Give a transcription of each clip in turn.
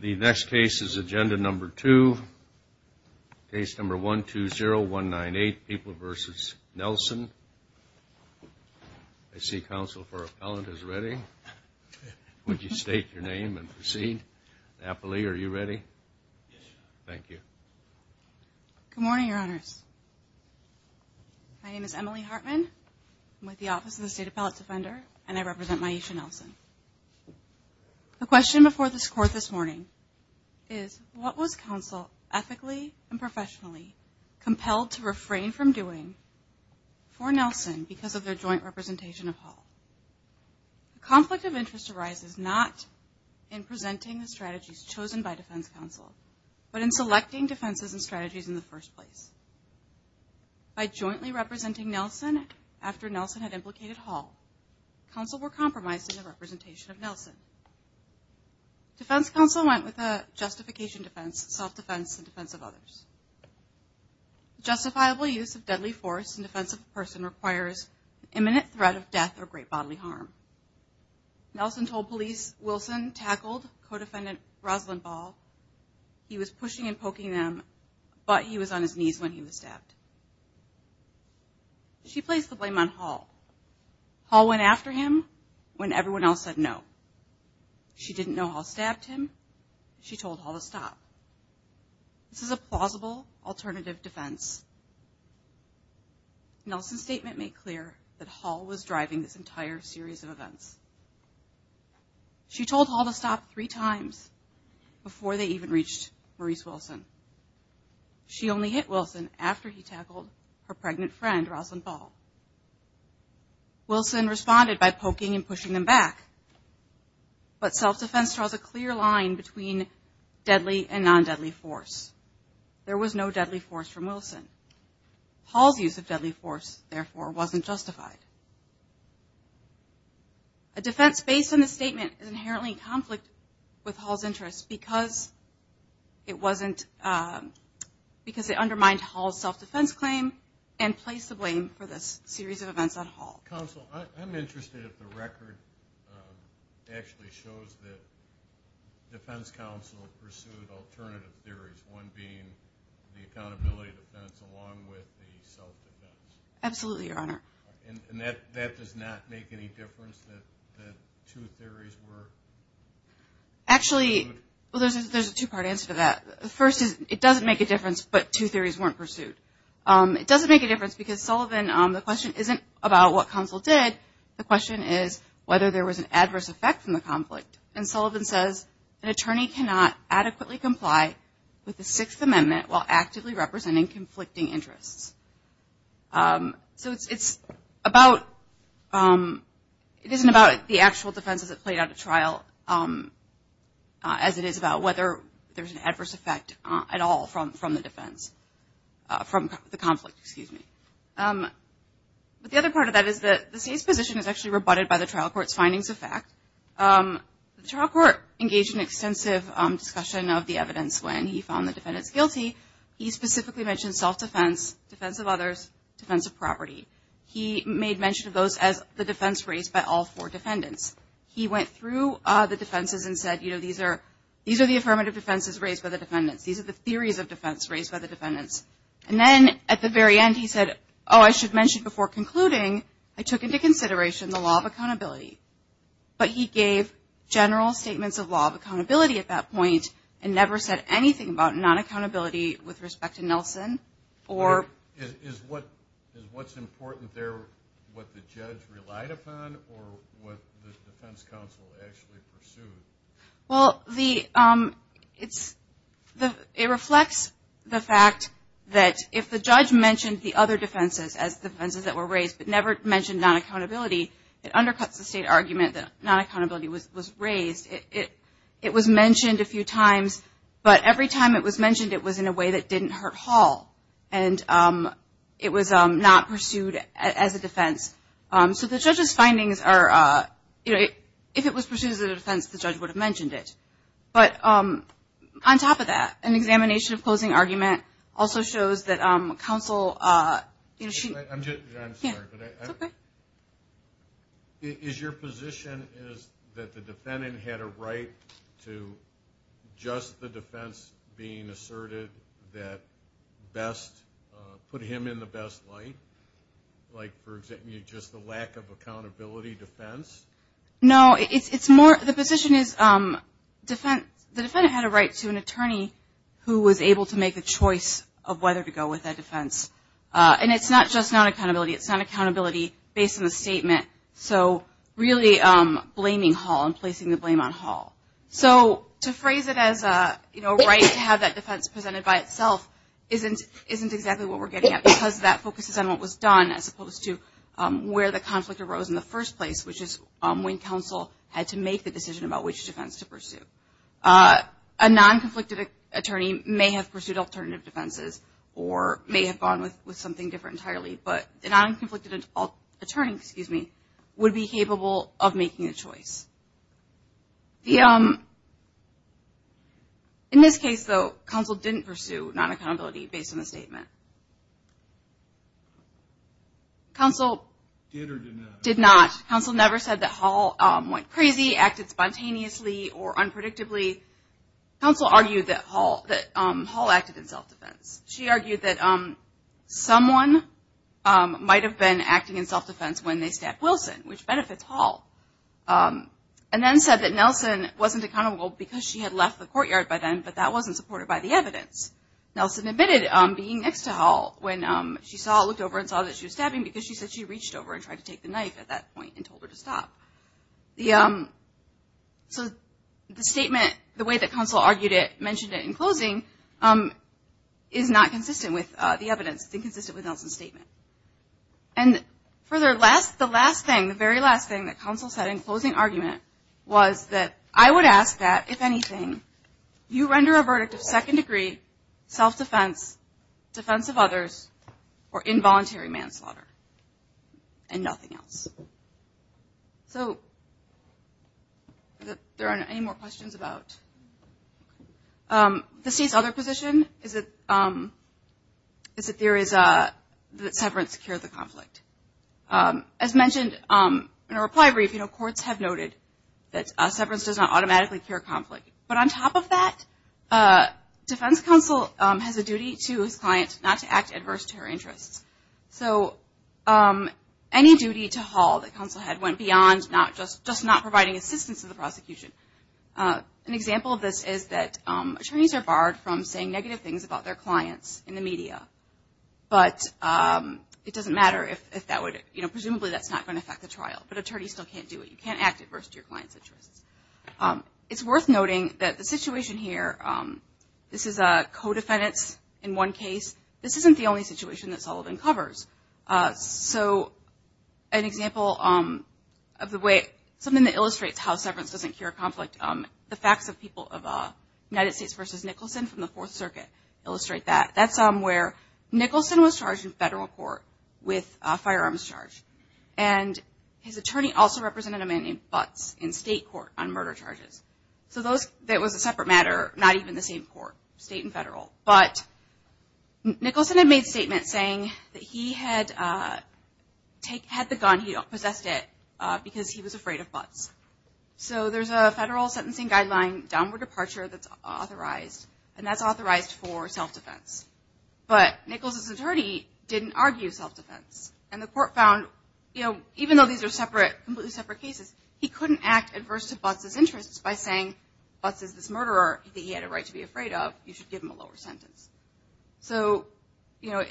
The next case is agenda number two, case number 120198, People v. Nelson. I see counsel for appellant is ready. Would you state your name and proceed. Napoli, are you ready? Yes, Your Honor. Thank you. Good morning, Your Honors. My name is Emily Hartman. I'm with the Office of the State Appellate Defender, and I represent Myesha Nelson. The question before this Court this morning is, what was counsel ethically and professionally compelled to refrain from doing for Nelson because of their joint representation of Hall? A conflict of interest arises not in presenting the strategies chosen by defense counsel, but in selecting defenses and strategies in the first place. By jointly representing Nelson after Nelson had implicated Hall, counsel were compromised in the representation of Nelson. Defense counsel went with a justification defense, self-defense, and defense of others. Justifiable use of deadly force in defense of a person requires imminent threat of death or great bodily harm. Nelson told police Wilson tackled co-defendant Rosalind Ball. He was pushing and poking them, but he was on his knees when he was stabbed. She placed the blame on Hall. Hall went after him when everyone else said no. She didn't know Hall stabbed him. She told Hall to stop. This is a plausible alternative defense. Nelson's statement made clear that Hall was driving this entire series of events. She told Hall to stop three times before they even reached Maurice Wilson. She only hit Wilson after he tackled her pregnant friend, Rosalind Ball. Wilson responded by poking and pushing them back. But self-defense draws a clear line between deadly and non-deadly force. There was no deadly force from Wilson. Hall's use of deadly force, therefore, wasn't justified. A defense based on this statement is inherently in conflict with Hall's interests because it undermined Hall's self-defense claim and placed the blame for this series of events on Hall. Counsel, I'm interested if the record actually shows that defense counsel pursued alternative theories, one being the accountability defense Absolutely, Your Honor. And that does not make any difference that two theories were pursued? Actually, well, there's a two-part answer to that. The first is it doesn't make a difference, but two theories weren't pursued. It doesn't make a difference because, Sullivan, the question isn't about what counsel did. The question is whether there was an adverse effect from the conflict. And Sullivan says an attorney cannot adequately comply with the Sixth Amendment while actively representing conflicting interests. So it's about, it isn't about the actual defense as it played out at trial, as it is about whether there's an adverse effect at all from the defense, from the conflict, excuse me. But the other part of that is that the state's position is actually rebutted by the trial court's findings of fact. The trial court engaged in extensive discussion of the evidence when he found the defendants guilty. He specifically mentioned self-defense, defense of others, defense of property. He made mention of those as the defense raised by all four defendants. He went through the defenses and said, you know, these are the affirmative defenses raised by the defendants. These are the theories of defense raised by the defendants. And then at the very end he said, oh, I should mention before concluding, I took into consideration the law of accountability. But he gave general statements of law of accountability at that point and never said anything about non-accountability with respect to Nelson. Is what's important there what the judge relied upon or what the defense counsel actually pursued? Well, it reflects the fact that if the judge mentioned the other defenses as defenses that were raised but never mentioned non-accountability, it undercuts the state argument that non-accountability was raised. It was mentioned a few times, but every time it was mentioned, it was in a way that didn't hurt Hall. And it was not pursued as a defense. So the judge's findings are, you know, if it was pursued as a defense, the judge would have mentioned it. But on top of that, an examination of closing argument also shows that counsel, you know, she – I'm sorry, but is your position is that the defendant had a right to just the defense being asserted that best put him in the best light? Like, for example, just the lack of accountability defense? No, it's more – the position is the defendant had a right to an attorney who was able to make a choice of whether to go with that defense. And it's not just non-accountability. It's non-accountability based on the statement. So really blaming Hall and placing the blame on Hall. So to phrase it as, you know, a right to have that defense presented by itself isn't exactly what we're getting at because that focuses on what was done as opposed to where the conflict arose in the first place, which is when counsel had to make the decision about which defense to pursue. A non-conflicted attorney may have pursued alternative defenses or may have gone with something different entirely, but a non-conflicted attorney would be capable of making a choice. In this case, though, counsel didn't pursue non-accountability based on the statement. Counsel did or did not? Did not. Counsel never said that Hall went crazy, acted spontaneously or unpredictably. Counsel argued that Hall acted in self-defense. She argued that someone might have been acting in self-defense when they stabbed Wilson, which benefits Hall, and then said that Nelson wasn't accountable because she had left the courtyard by then, but that wasn't supported by the evidence. Nelson admitted being next to Hall when she looked over and saw that she was stabbing because she said she reached over and tried to take the knife at that point and told her to stop. So the statement, the way that counsel argued it, mentioned it in closing, is not consistent with the evidence. It's inconsistent with Nelson's statement. And further, the last thing, the very last thing that counsel said in closing argument was that I would ask that, if anything, you render a verdict of second degree, self-defense, defense of others, or involuntary manslaughter and nothing else. So are there any more questions about the state's other position? Is it the theory that severance cured the conflict? As mentioned in our reply brief, courts have noted that severance does not automatically cure conflict. But on top of that, defense counsel has a duty to his client not to act adverse to her interests. So any duty to Hall that counsel had went beyond just not providing assistance to the prosecution. An example of this is that attorneys are barred from saying negative things about their clients in the media. But it doesn't matter if that would, you know, presumably that's not going to affect the trial. But attorneys still can't do it. You can't act adverse to your client's interests. It's worth noting that the situation here, this is a co-defendants in one case. This isn't the only situation that Sullivan covers. So an example of the way, something that illustrates how severance doesn't cure conflict, the facts of people of United States v. Nicholson from the Fourth Circuit illustrate that. That's where Nicholson was charged in federal court with a firearms charge. And his attorney also represented a man named Butts in state court on murder charges. So that was a separate matter, not even the same court, state and federal. But Nicholson had made a statement saying that he had the gun. He possessed it because he was afraid of Butts. So there's a federal sentencing guideline, downward departure, that's authorized. And that's authorized for self-defense. But Nicholson's attorney didn't argue self-defense. And the court found, you know, even though these are separate, completely separate cases, he couldn't act adverse to Butts' interests by saying, Butts is this murderer that he had a right to be afraid of. You should give him a lower sentence. So, you know,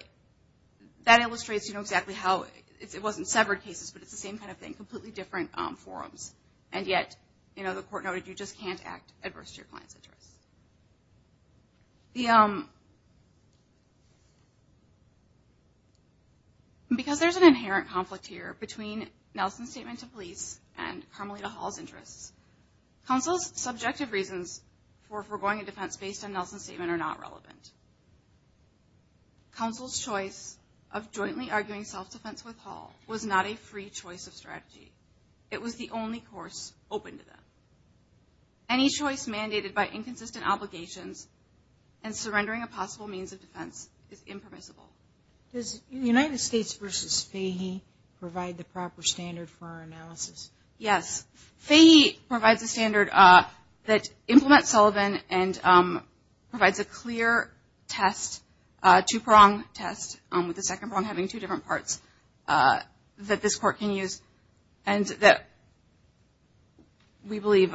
that illustrates, you know, exactly how it wasn't severed cases, but it's the same kind of thing, completely different forms. And yet, you know, the court noted you just can't act adverse to your client's interests. Because there's an inherent conflict here between Nelson's statement to police and Carmelita Hall's interests. Counsel's subjective reasons for foregoing a defense based on Nelson's statement are not relevant. Counsel's choice of jointly arguing self-defense with Hall was not a free choice of strategy. It was the only course open to them. Any choice mandated by inconsistent obligations and surrendering a possible means of defense is impermissible. Does United States v. Fahey provide the proper standard for our analysis? Yes. Fahey provides a standard that implements Sullivan and provides a clear test, two prong test with the second prong having two different parts that this court can use and that we believe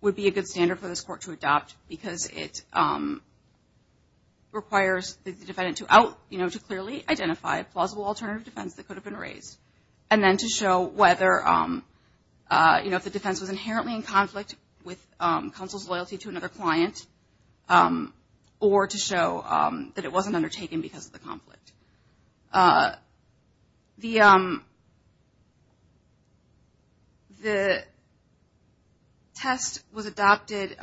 would be a good standard for this court to adopt because it requires the defendant to out, you know, to clearly identify a plausible alternative defense that could have been raised. And then to show whether, you know, if the defense was inherently in conflict with counsel's loyalty to another client or to show that it wasn't undertaken because of the conflict. The test was adopted.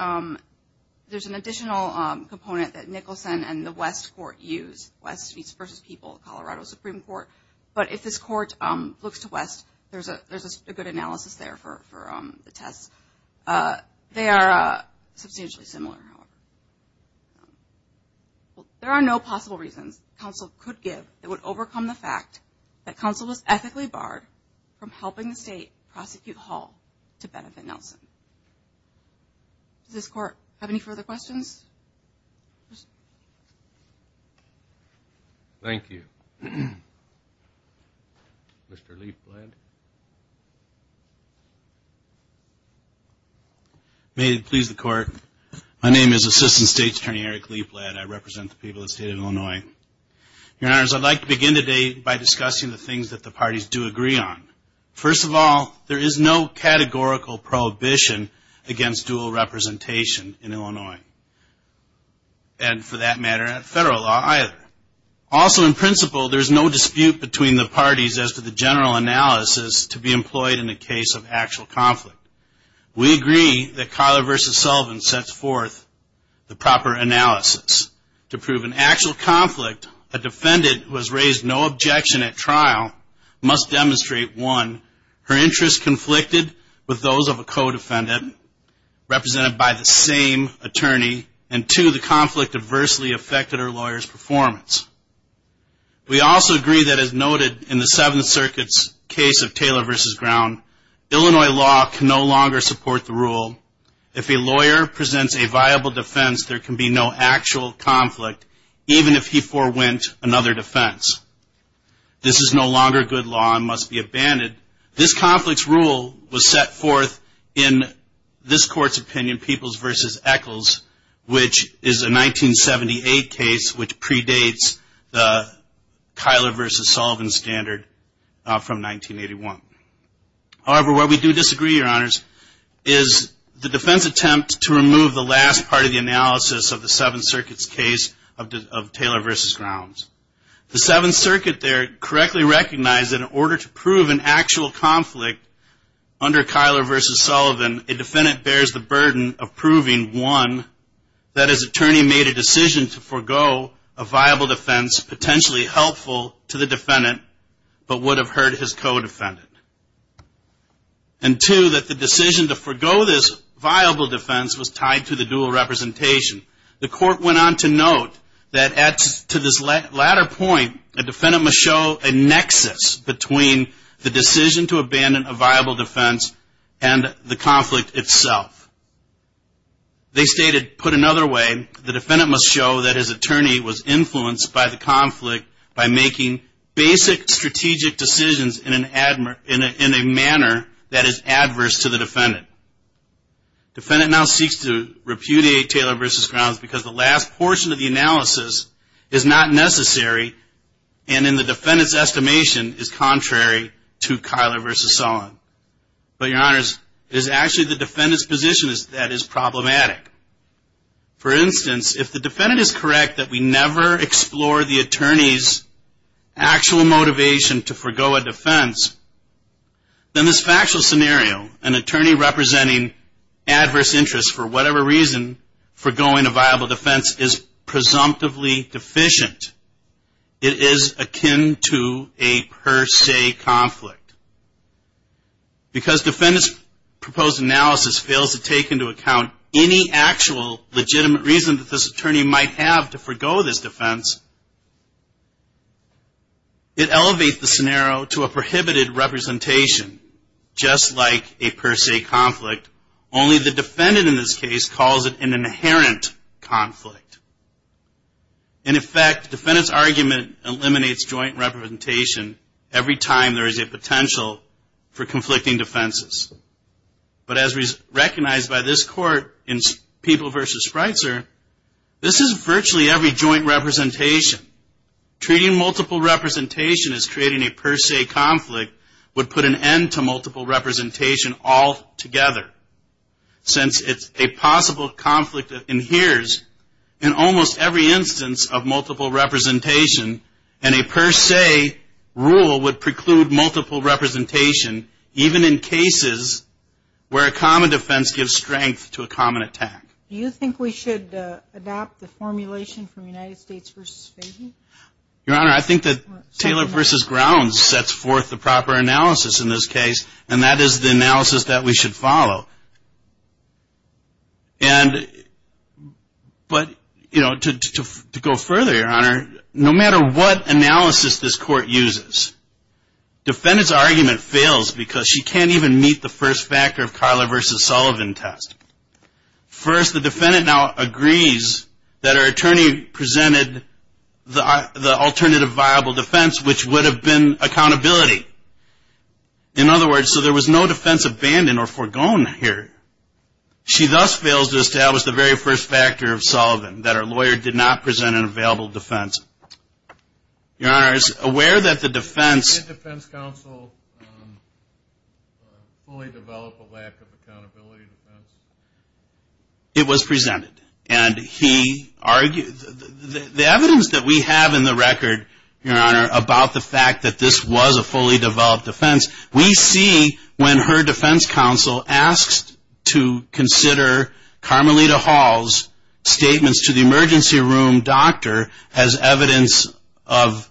There's an additional component that Nicholson and the West Court use, West v. People, Colorado Supreme Court. But if this court looks to West, there's a good analysis there for the test. They are substantially similar. There are no possible reasons counsel could give. It would overcome the fact that counsel was ethically barred from helping the state prosecute Hall to benefit Nelson. Does this court have any further questions? Thank you. Mr. Leaplead. May it please the court, my name is Assistant State Attorney Eric Leaplead. I represent the people of the state of Illinois. Your Honors, I'd like to begin today by discussing the things that the parties do agree on. First of all, there is no categorical prohibition against dual representation in Illinois. And for that matter, at federal law either. Also in principle, there's no dispute between the parties as to the general analysis to be employed in the case of actual conflict. We agree that Collar v. Sullivan sets forth the proper analysis to prove an actual conflict. A defendant who has raised no objection at trial must demonstrate, one, her interests conflicted with those of a co-defendant represented by the same attorney, and two, the conflict adversely affected her lawyer's performance. We also agree that as noted in the Seventh Circuit's case of Taylor v. Ground, Illinois law can no longer support the rule. If a lawyer presents a viable defense, there can be no actual conflict, even if he forwent another defense. This is no longer good law and must be abandoned. This conflict's rule was set forth in this court's opinion, Peoples v. Eccles, which is a 1978 case which predates the Collar v. Sullivan standard from 1981. However, where we do disagree, Your Honors, is the defense attempt to remove the last part of the analysis of the Seventh Circuit's case of Taylor v. Grounds. The Seventh Circuit there correctly recognized that in order to prove an actual conflict under Collar v. Sullivan, a defendant bears the burden of proving, one, that his attorney made a decision to forego a viable defense potentially helpful to the defendant but would have hurt his co-defendant. And two, that the decision to forego this viable defense was tied to the dual representation. The court went on to note that to this latter point, a defendant must show a nexus between the decision to abandon a viable defense and the conflict itself. They stated, put another way, the defendant must show that his attorney was making basic strategic decisions in a manner that is adverse to the defendant. Defendant now seeks to repudiate Taylor v. Grounds because the last portion of the analysis is not necessary and in the defendant's estimation is contrary to Collar v. Sullivan. But, Your Honors, it is actually the defendant's position that is problematic. For instance, if the defendant is correct that we never explore the attorney's actual motivation to forego a defense, then this factual scenario, an attorney representing adverse interests for whatever reason, foregoing a viable defense is presumptively deficient. It is akin to a per se conflict. Because defendant's proposed analysis fails to take into account any actual legitimate reason that this attorney might have to forego this defense, it elevates the scenario to a prohibited representation, just like a per se conflict. Only the defendant in this case calls it an inherent conflict. In effect, the defendant's argument eliminates joint representation every time there is a potential for conflicting defenses. But as recognized by this court in People v. Spreitzer, this is virtually every joint representation. Treating multiple representation as creating a per se conflict would put an end to multiple representation altogether. Since it's a possible conflict that inheres in almost every instance of multiple representation, even in cases where a common defense gives strength to a common attack. Do you think we should adopt the formulation from United States v. Fahey? Your Honor, I think that Taylor v. Grounds sets forth the proper analysis in this case, and that is the analysis that we should follow. And but, you know, to go further, Your Honor, no matter what analysis this court uses, defendant's argument fails because she can't even meet the first factor of Karla v. Sullivan test. First, the defendant now agrees that her attorney presented the alternative viable defense, which would have been accountability. In other words, so there was no defense abandoned or foregone here. She thus fails to establish the very first factor of Sullivan, that her lawyer did not present an available defense. Your Honor, it's aware that the defense. Did defense counsel fully develop a lack of accountability defense? It was presented, and he argued. The evidence that we have in the record, Your Honor, about the fact that this was a fully developed defense, we see when her defense counsel asks to consider Carmelita Hall's statements to the emergency room doctor as evidence of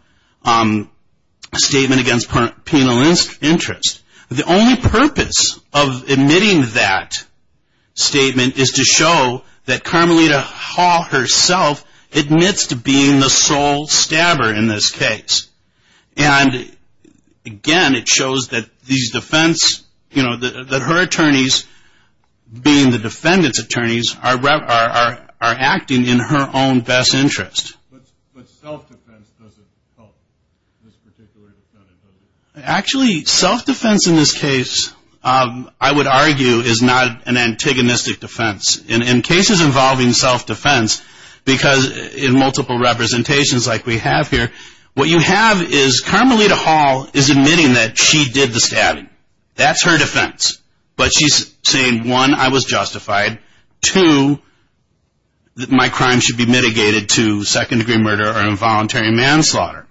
statement against penal interest. The only purpose of admitting that statement is to show that Carmelita Hall herself admits to being the sole stabber in this case. And again, it shows that these defense, you know, that her attorneys, being the defendant's attorneys, are acting in her own best interest. But self-defense doesn't help this particular defendant, does it? Actually, self-defense in this case, I would argue, is not an antagonistic defense. In cases involving self-defense, because in multiple representations like we have here, what you have is Carmelita Hall is admitting that she did the stabbing. That's her defense. But she's saying, one, I was justified. Two, my crime should be mitigated to second-degree murder or involuntary manslaughter.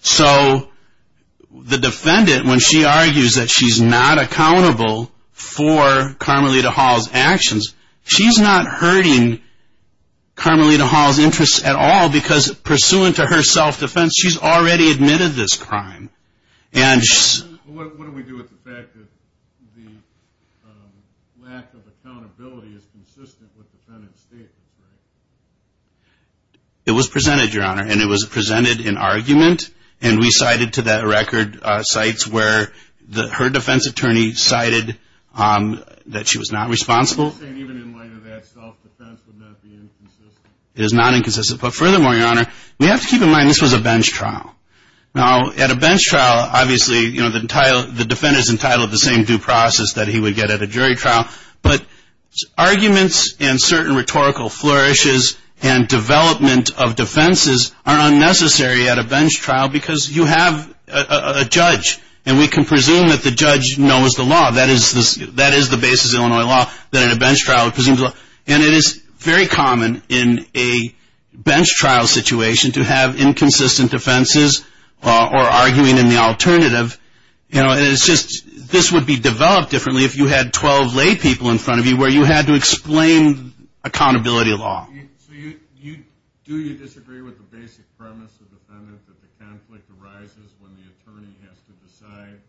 So the defendant, when she argues that she's not accountable for Carmelita Hall's actions, she's not hurting Carmelita Hall's interests at all because, pursuant to her self-defense, she's already admitted this crime. What do we do with the fact that the lack of accountability is consistent with the defendant's statement? It was presented, Your Honor, and it was presented in argument, and we cited to that record sites where her defense attorney cited that she was not responsible. Are you saying even in light of that, self-defense would not be inconsistent? It is not inconsistent. But furthermore, Your Honor, we have to keep in mind this was a bench trial. Now, at a bench trial, obviously, you know, the defendant is entitled to the same due process that he would get at a jury trial. But arguments and certain rhetorical flourishes and development of defenses are unnecessary at a bench trial because you have a judge, and we can presume that the judge knows the law. That is the basis of Illinois law, that at a bench trial it presumes the law. And it is very common in a bench trial situation to have inconsistent defenses or arguing in the alternative. You know, it's just this would be developed differently if you had 12 lay people in front of you where you had to explain accountability law. So do you disagree with the basic premise of the defendant that the conflict arises when the attorney has to decide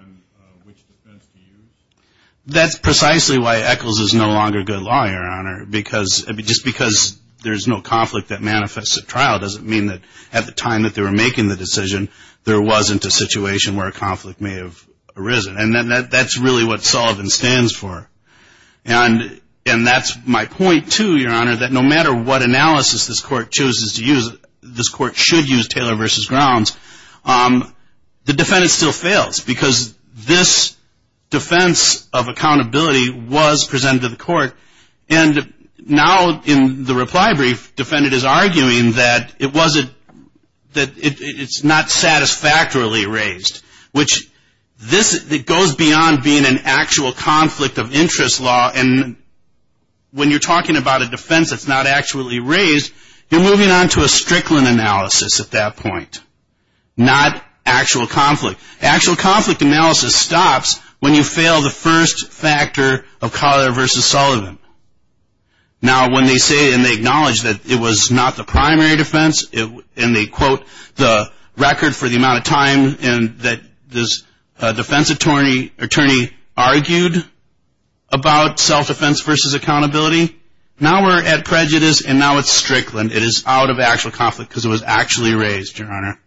on which defense to use? That's precisely why Echols is no longer good law, Your Honor, just because there's no conflict that manifests at trial doesn't mean that at the time that they were making the decision there wasn't a situation where a conflict may have arisen. And that's really what Sullivan stands for. And that's my point, too, Your Honor, that no matter what analysis this court chooses to use, this court should use Taylor v. Grounds. The defendant still fails because this defense of accountability was presented to the court. And now in the reply brief, defendant is arguing that it's not satisfactorily raised, which goes beyond being an actual conflict of interest law. And when you're talking about a defense that's not actually raised, you're moving on to a Strickland analysis at that point, not actual conflict. Actual conflict analysis stops when you fail the first factor of Collier v. Sullivan. Now when they say and they acknowledge that it was not the primary defense and they quote the record for the amount of time that this defense attorney argued about self-defense versus accountability, now we're at prejudice and now it's Strickland. It is out of actual conflict because it was actually raised, Your Honor.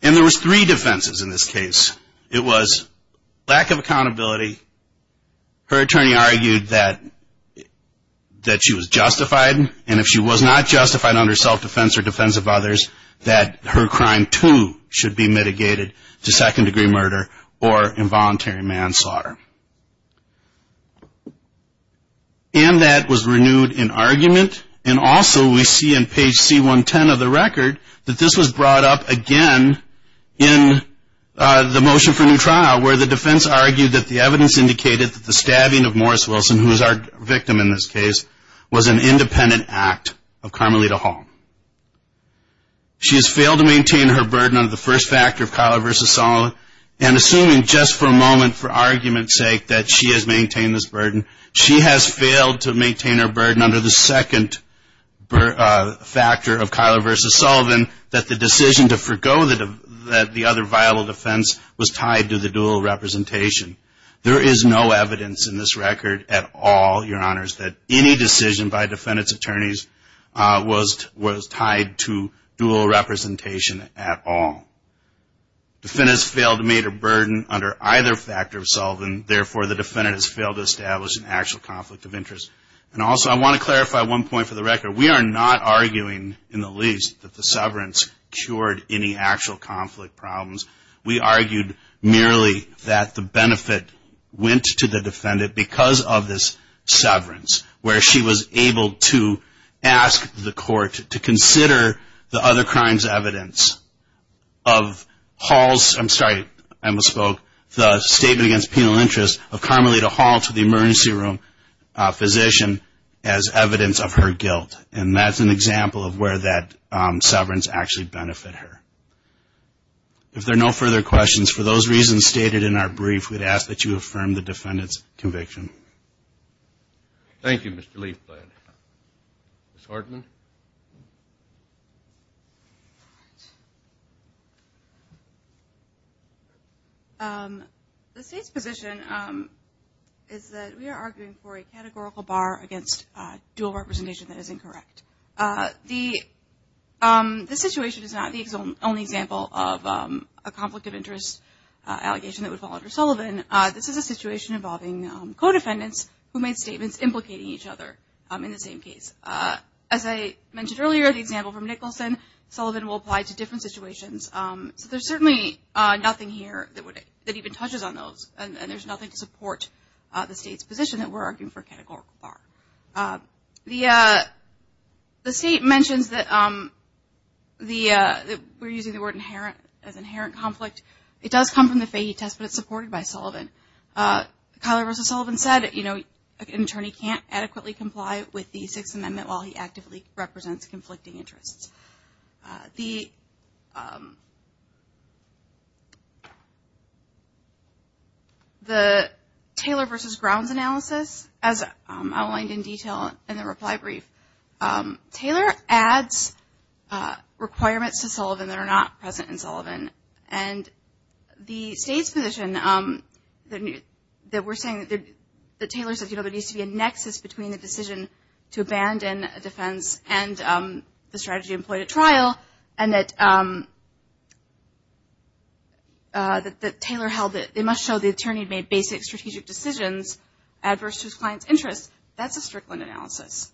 And there was three defenses in this case. It was lack of accountability. Her attorney argued that she was justified. And if she was not justified under self-defense or defense of others, that her crime too should be mitigated to second-degree murder or involuntary manslaughter. And that was renewed in argument and also we see in page C110 of the record that this was brought up again in the motion for new trial where the defense argued that the evidence indicated that the stabbing of Morris Wilson, who is our victim in this case, was an independent act of Carmelita Hall. She has failed to maintain her burden under the first factor of Collier v. Sullivan. And assuming just for a moment for argument's sake that she has maintained this burden, she has failed to maintain her burden under the second factor of Collier v. Sullivan that the decision to forego the other viable defense was tied to the dual representation. There is no evidence in this record at all, Your Honors, that any decision by defendant's attorneys was tied to dual representation at all. Defendant has failed to maintain her burden under either factor of Sullivan, therefore the defendant has failed to establish an actual conflict of interest. And also I want to clarify one point for the record. We are not arguing in the least that the severance cured any actual conflict problems. We argued merely that the benefit went to the defendant because of this severance where she was able to ask the court to consider the other crimes evidence of Hall's, I'm sorry, I misspoke, the statement against penal interest of Carmelita Hall to the emergency room physician as evidence of her guilt. And that's an example of where that severance actually benefited her. If there are no further questions, for those reasons stated in our brief, we'd ask that you affirm the defendant's conviction. Thank you, Mr. Leafblad. Ms. Hartman? The State's position is that we are arguing for a categorical bar against dual representation that is incorrect. The situation is not the only example of a conflict of interest allegation that would fall under Sullivan. This is a situation involving co-defendants who made statements implicating each other in the same case. As I mentioned earlier, the example from Nicholson, Sullivan will apply to different situations. So there's certainly nothing here that even touches on those and there's nothing to support the State's position that we're arguing for a categorical bar. The State mentions that we're using the word inherent as inherent conflict. It does come from the Fahy test, but it's supported by Sullivan. Kyler v. Sullivan said an attorney can't adequately comply with the Sixth Amendment while he actively represents conflicting interests. The Taylor v. Grounds analysis, as outlined in detail in the reply brief, Taylor adds requirements to Sullivan that are not present in Sullivan. And the State's position that we're saying that Taylor says there needs to be a nexus between the decision to abandon a defense and the strategy employed at trial and that Taylor held that they must show the attorney made basic strategic decisions adverse to his client's interests, that's a Strickland analysis.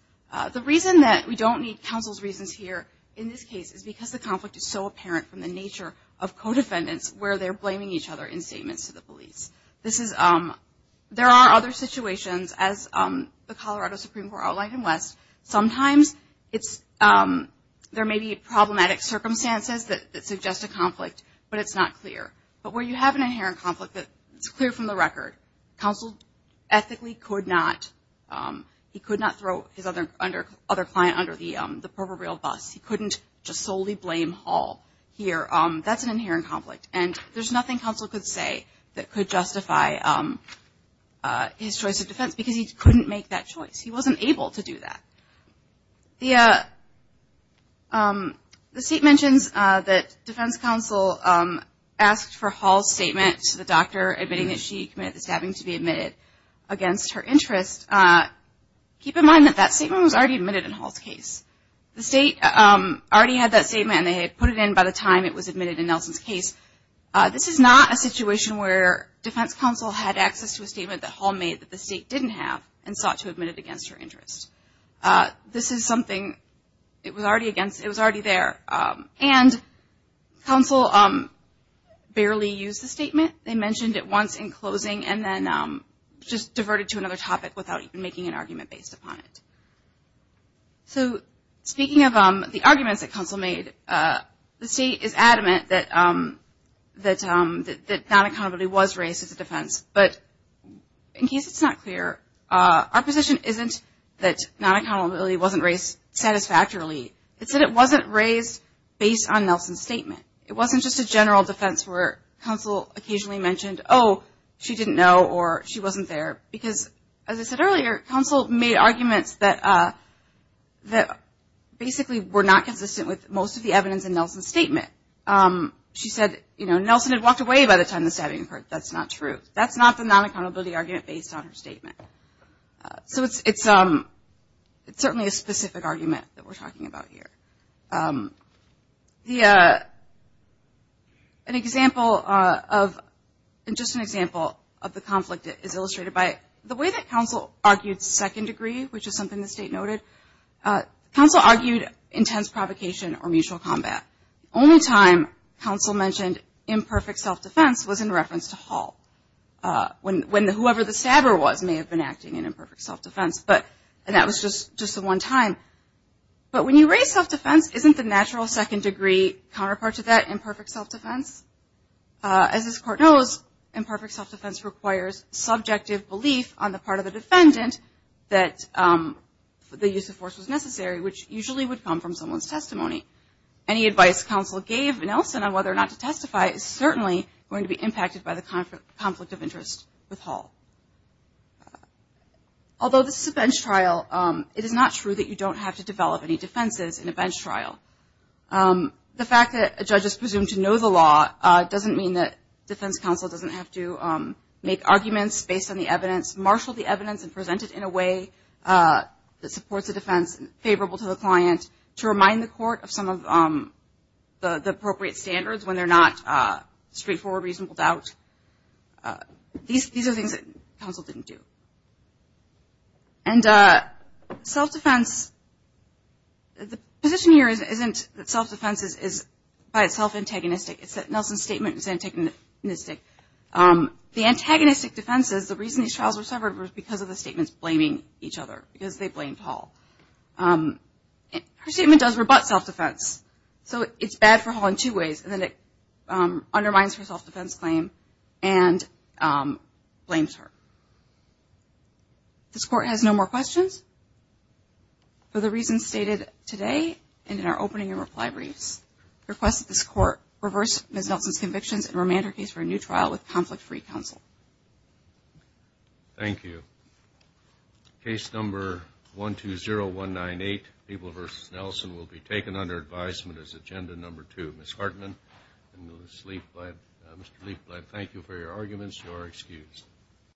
The reason that we don't need counsel's reasons here in this case is because the conflict is so apparent from the nature of co-defendants where they're blaming each other in statements to the police. There are other situations, as the Colorado Supreme Court outlined in West, sometimes there may be problematic circumstances that suggest a conflict, but it's not clear. But where you have an inherent conflict that's clear from the record, counsel ethically could not throw his other client under the proverbial bus. He couldn't just solely blame Hall here. That's an inherent conflict. And there's nothing counsel could say that could justify his choice of defense because he couldn't make that choice. He wasn't able to do that. The State mentions that defense counsel asked for Hall's statement to the doctor admitting that she committed the stabbing to be admitted against her interest. Keep in mind that that statement was already admitted in Hall's case. The State already had that statement, and they had put it in by the time it was admitted in Nelson's case. This is not a situation where defense counsel had access to a statement that Hall made that the State didn't have and sought to admit it against her interest. This is something it was already there. And counsel barely used the statement. They mentioned it once in closing and then just diverted to another topic without making an argument based upon it. So speaking of the arguments that counsel made, the State is adamant that non-accountability was raised as a defense. But in case it's not clear, our position isn't that non-accountability wasn't raised satisfactorily. It's that it wasn't raised based on Nelson's statement. It wasn't just a general defense where counsel occasionally mentioned, oh, she didn't know or she wasn't there. Because, as I said earlier, counsel made arguments that basically were not consistent with most of the evidence in Nelson's statement. She said Nelson had walked away by the time the stabbing occurred. That's not true. That's not the non-accountability argument based on her statement. So it's certainly a specific argument that we're talking about here. The – an example of – and just an example of the conflict is illustrated by the way that counsel argued second degree, which is something the State noted. Counsel argued intense provocation or mutual combat. The only time counsel mentioned imperfect self-defense was in reference to Hall, when whoever the stabber was may have been acting in imperfect self-defense. But – and that was just the one time. But when you raise self-defense, isn't the natural second degree counterpart to that imperfect self-defense? As this Court knows, imperfect self-defense requires subjective belief on the part of the defendant that the use of force was necessary, which usually would come from someone's testimony. Any advice counsel gave Nelson on whether or not to testify is certainly going to be impacted by the conflict of interest with Hall. Although this is a bench trial, it is not true that you don't have to develop any defenses in a bench trial. The fact that a judge is presumed to know the law doesn't mean that defense counsel doesn't have to make arguments based on the evidence, marshal the evidence, and present it in a way that supports a defense favorable to the client to remind the court of some of the appropriate standards when they're not straightforward, reasonable doubt. These are things that counsel didn't do. And self-defense, the position here isn't that self-defense is by itself antagonistic. It's that Nelson's statement is antagonistic. The antagonistic defenses, the reason these trials were severed, was because of the statements blaming each other, because they blamed Hall. Her statement does rebut self-defense. So it's bad for Hall in two ways. And then it undermines her self-defense claim and blames her. This court has no more questions. For the reasons stated today and in our opening and reply briefs, I request that this court reverse Ms. Nelson's convictions and remand her case for a new trial with conflict-free counsel. Thank you. Case number 120198, People v. Nelson, will be taken under advisement as agenda number two. Thank you, Ms. Hartman and Mr. Leekblad. Thank you for your arguments. You are excused.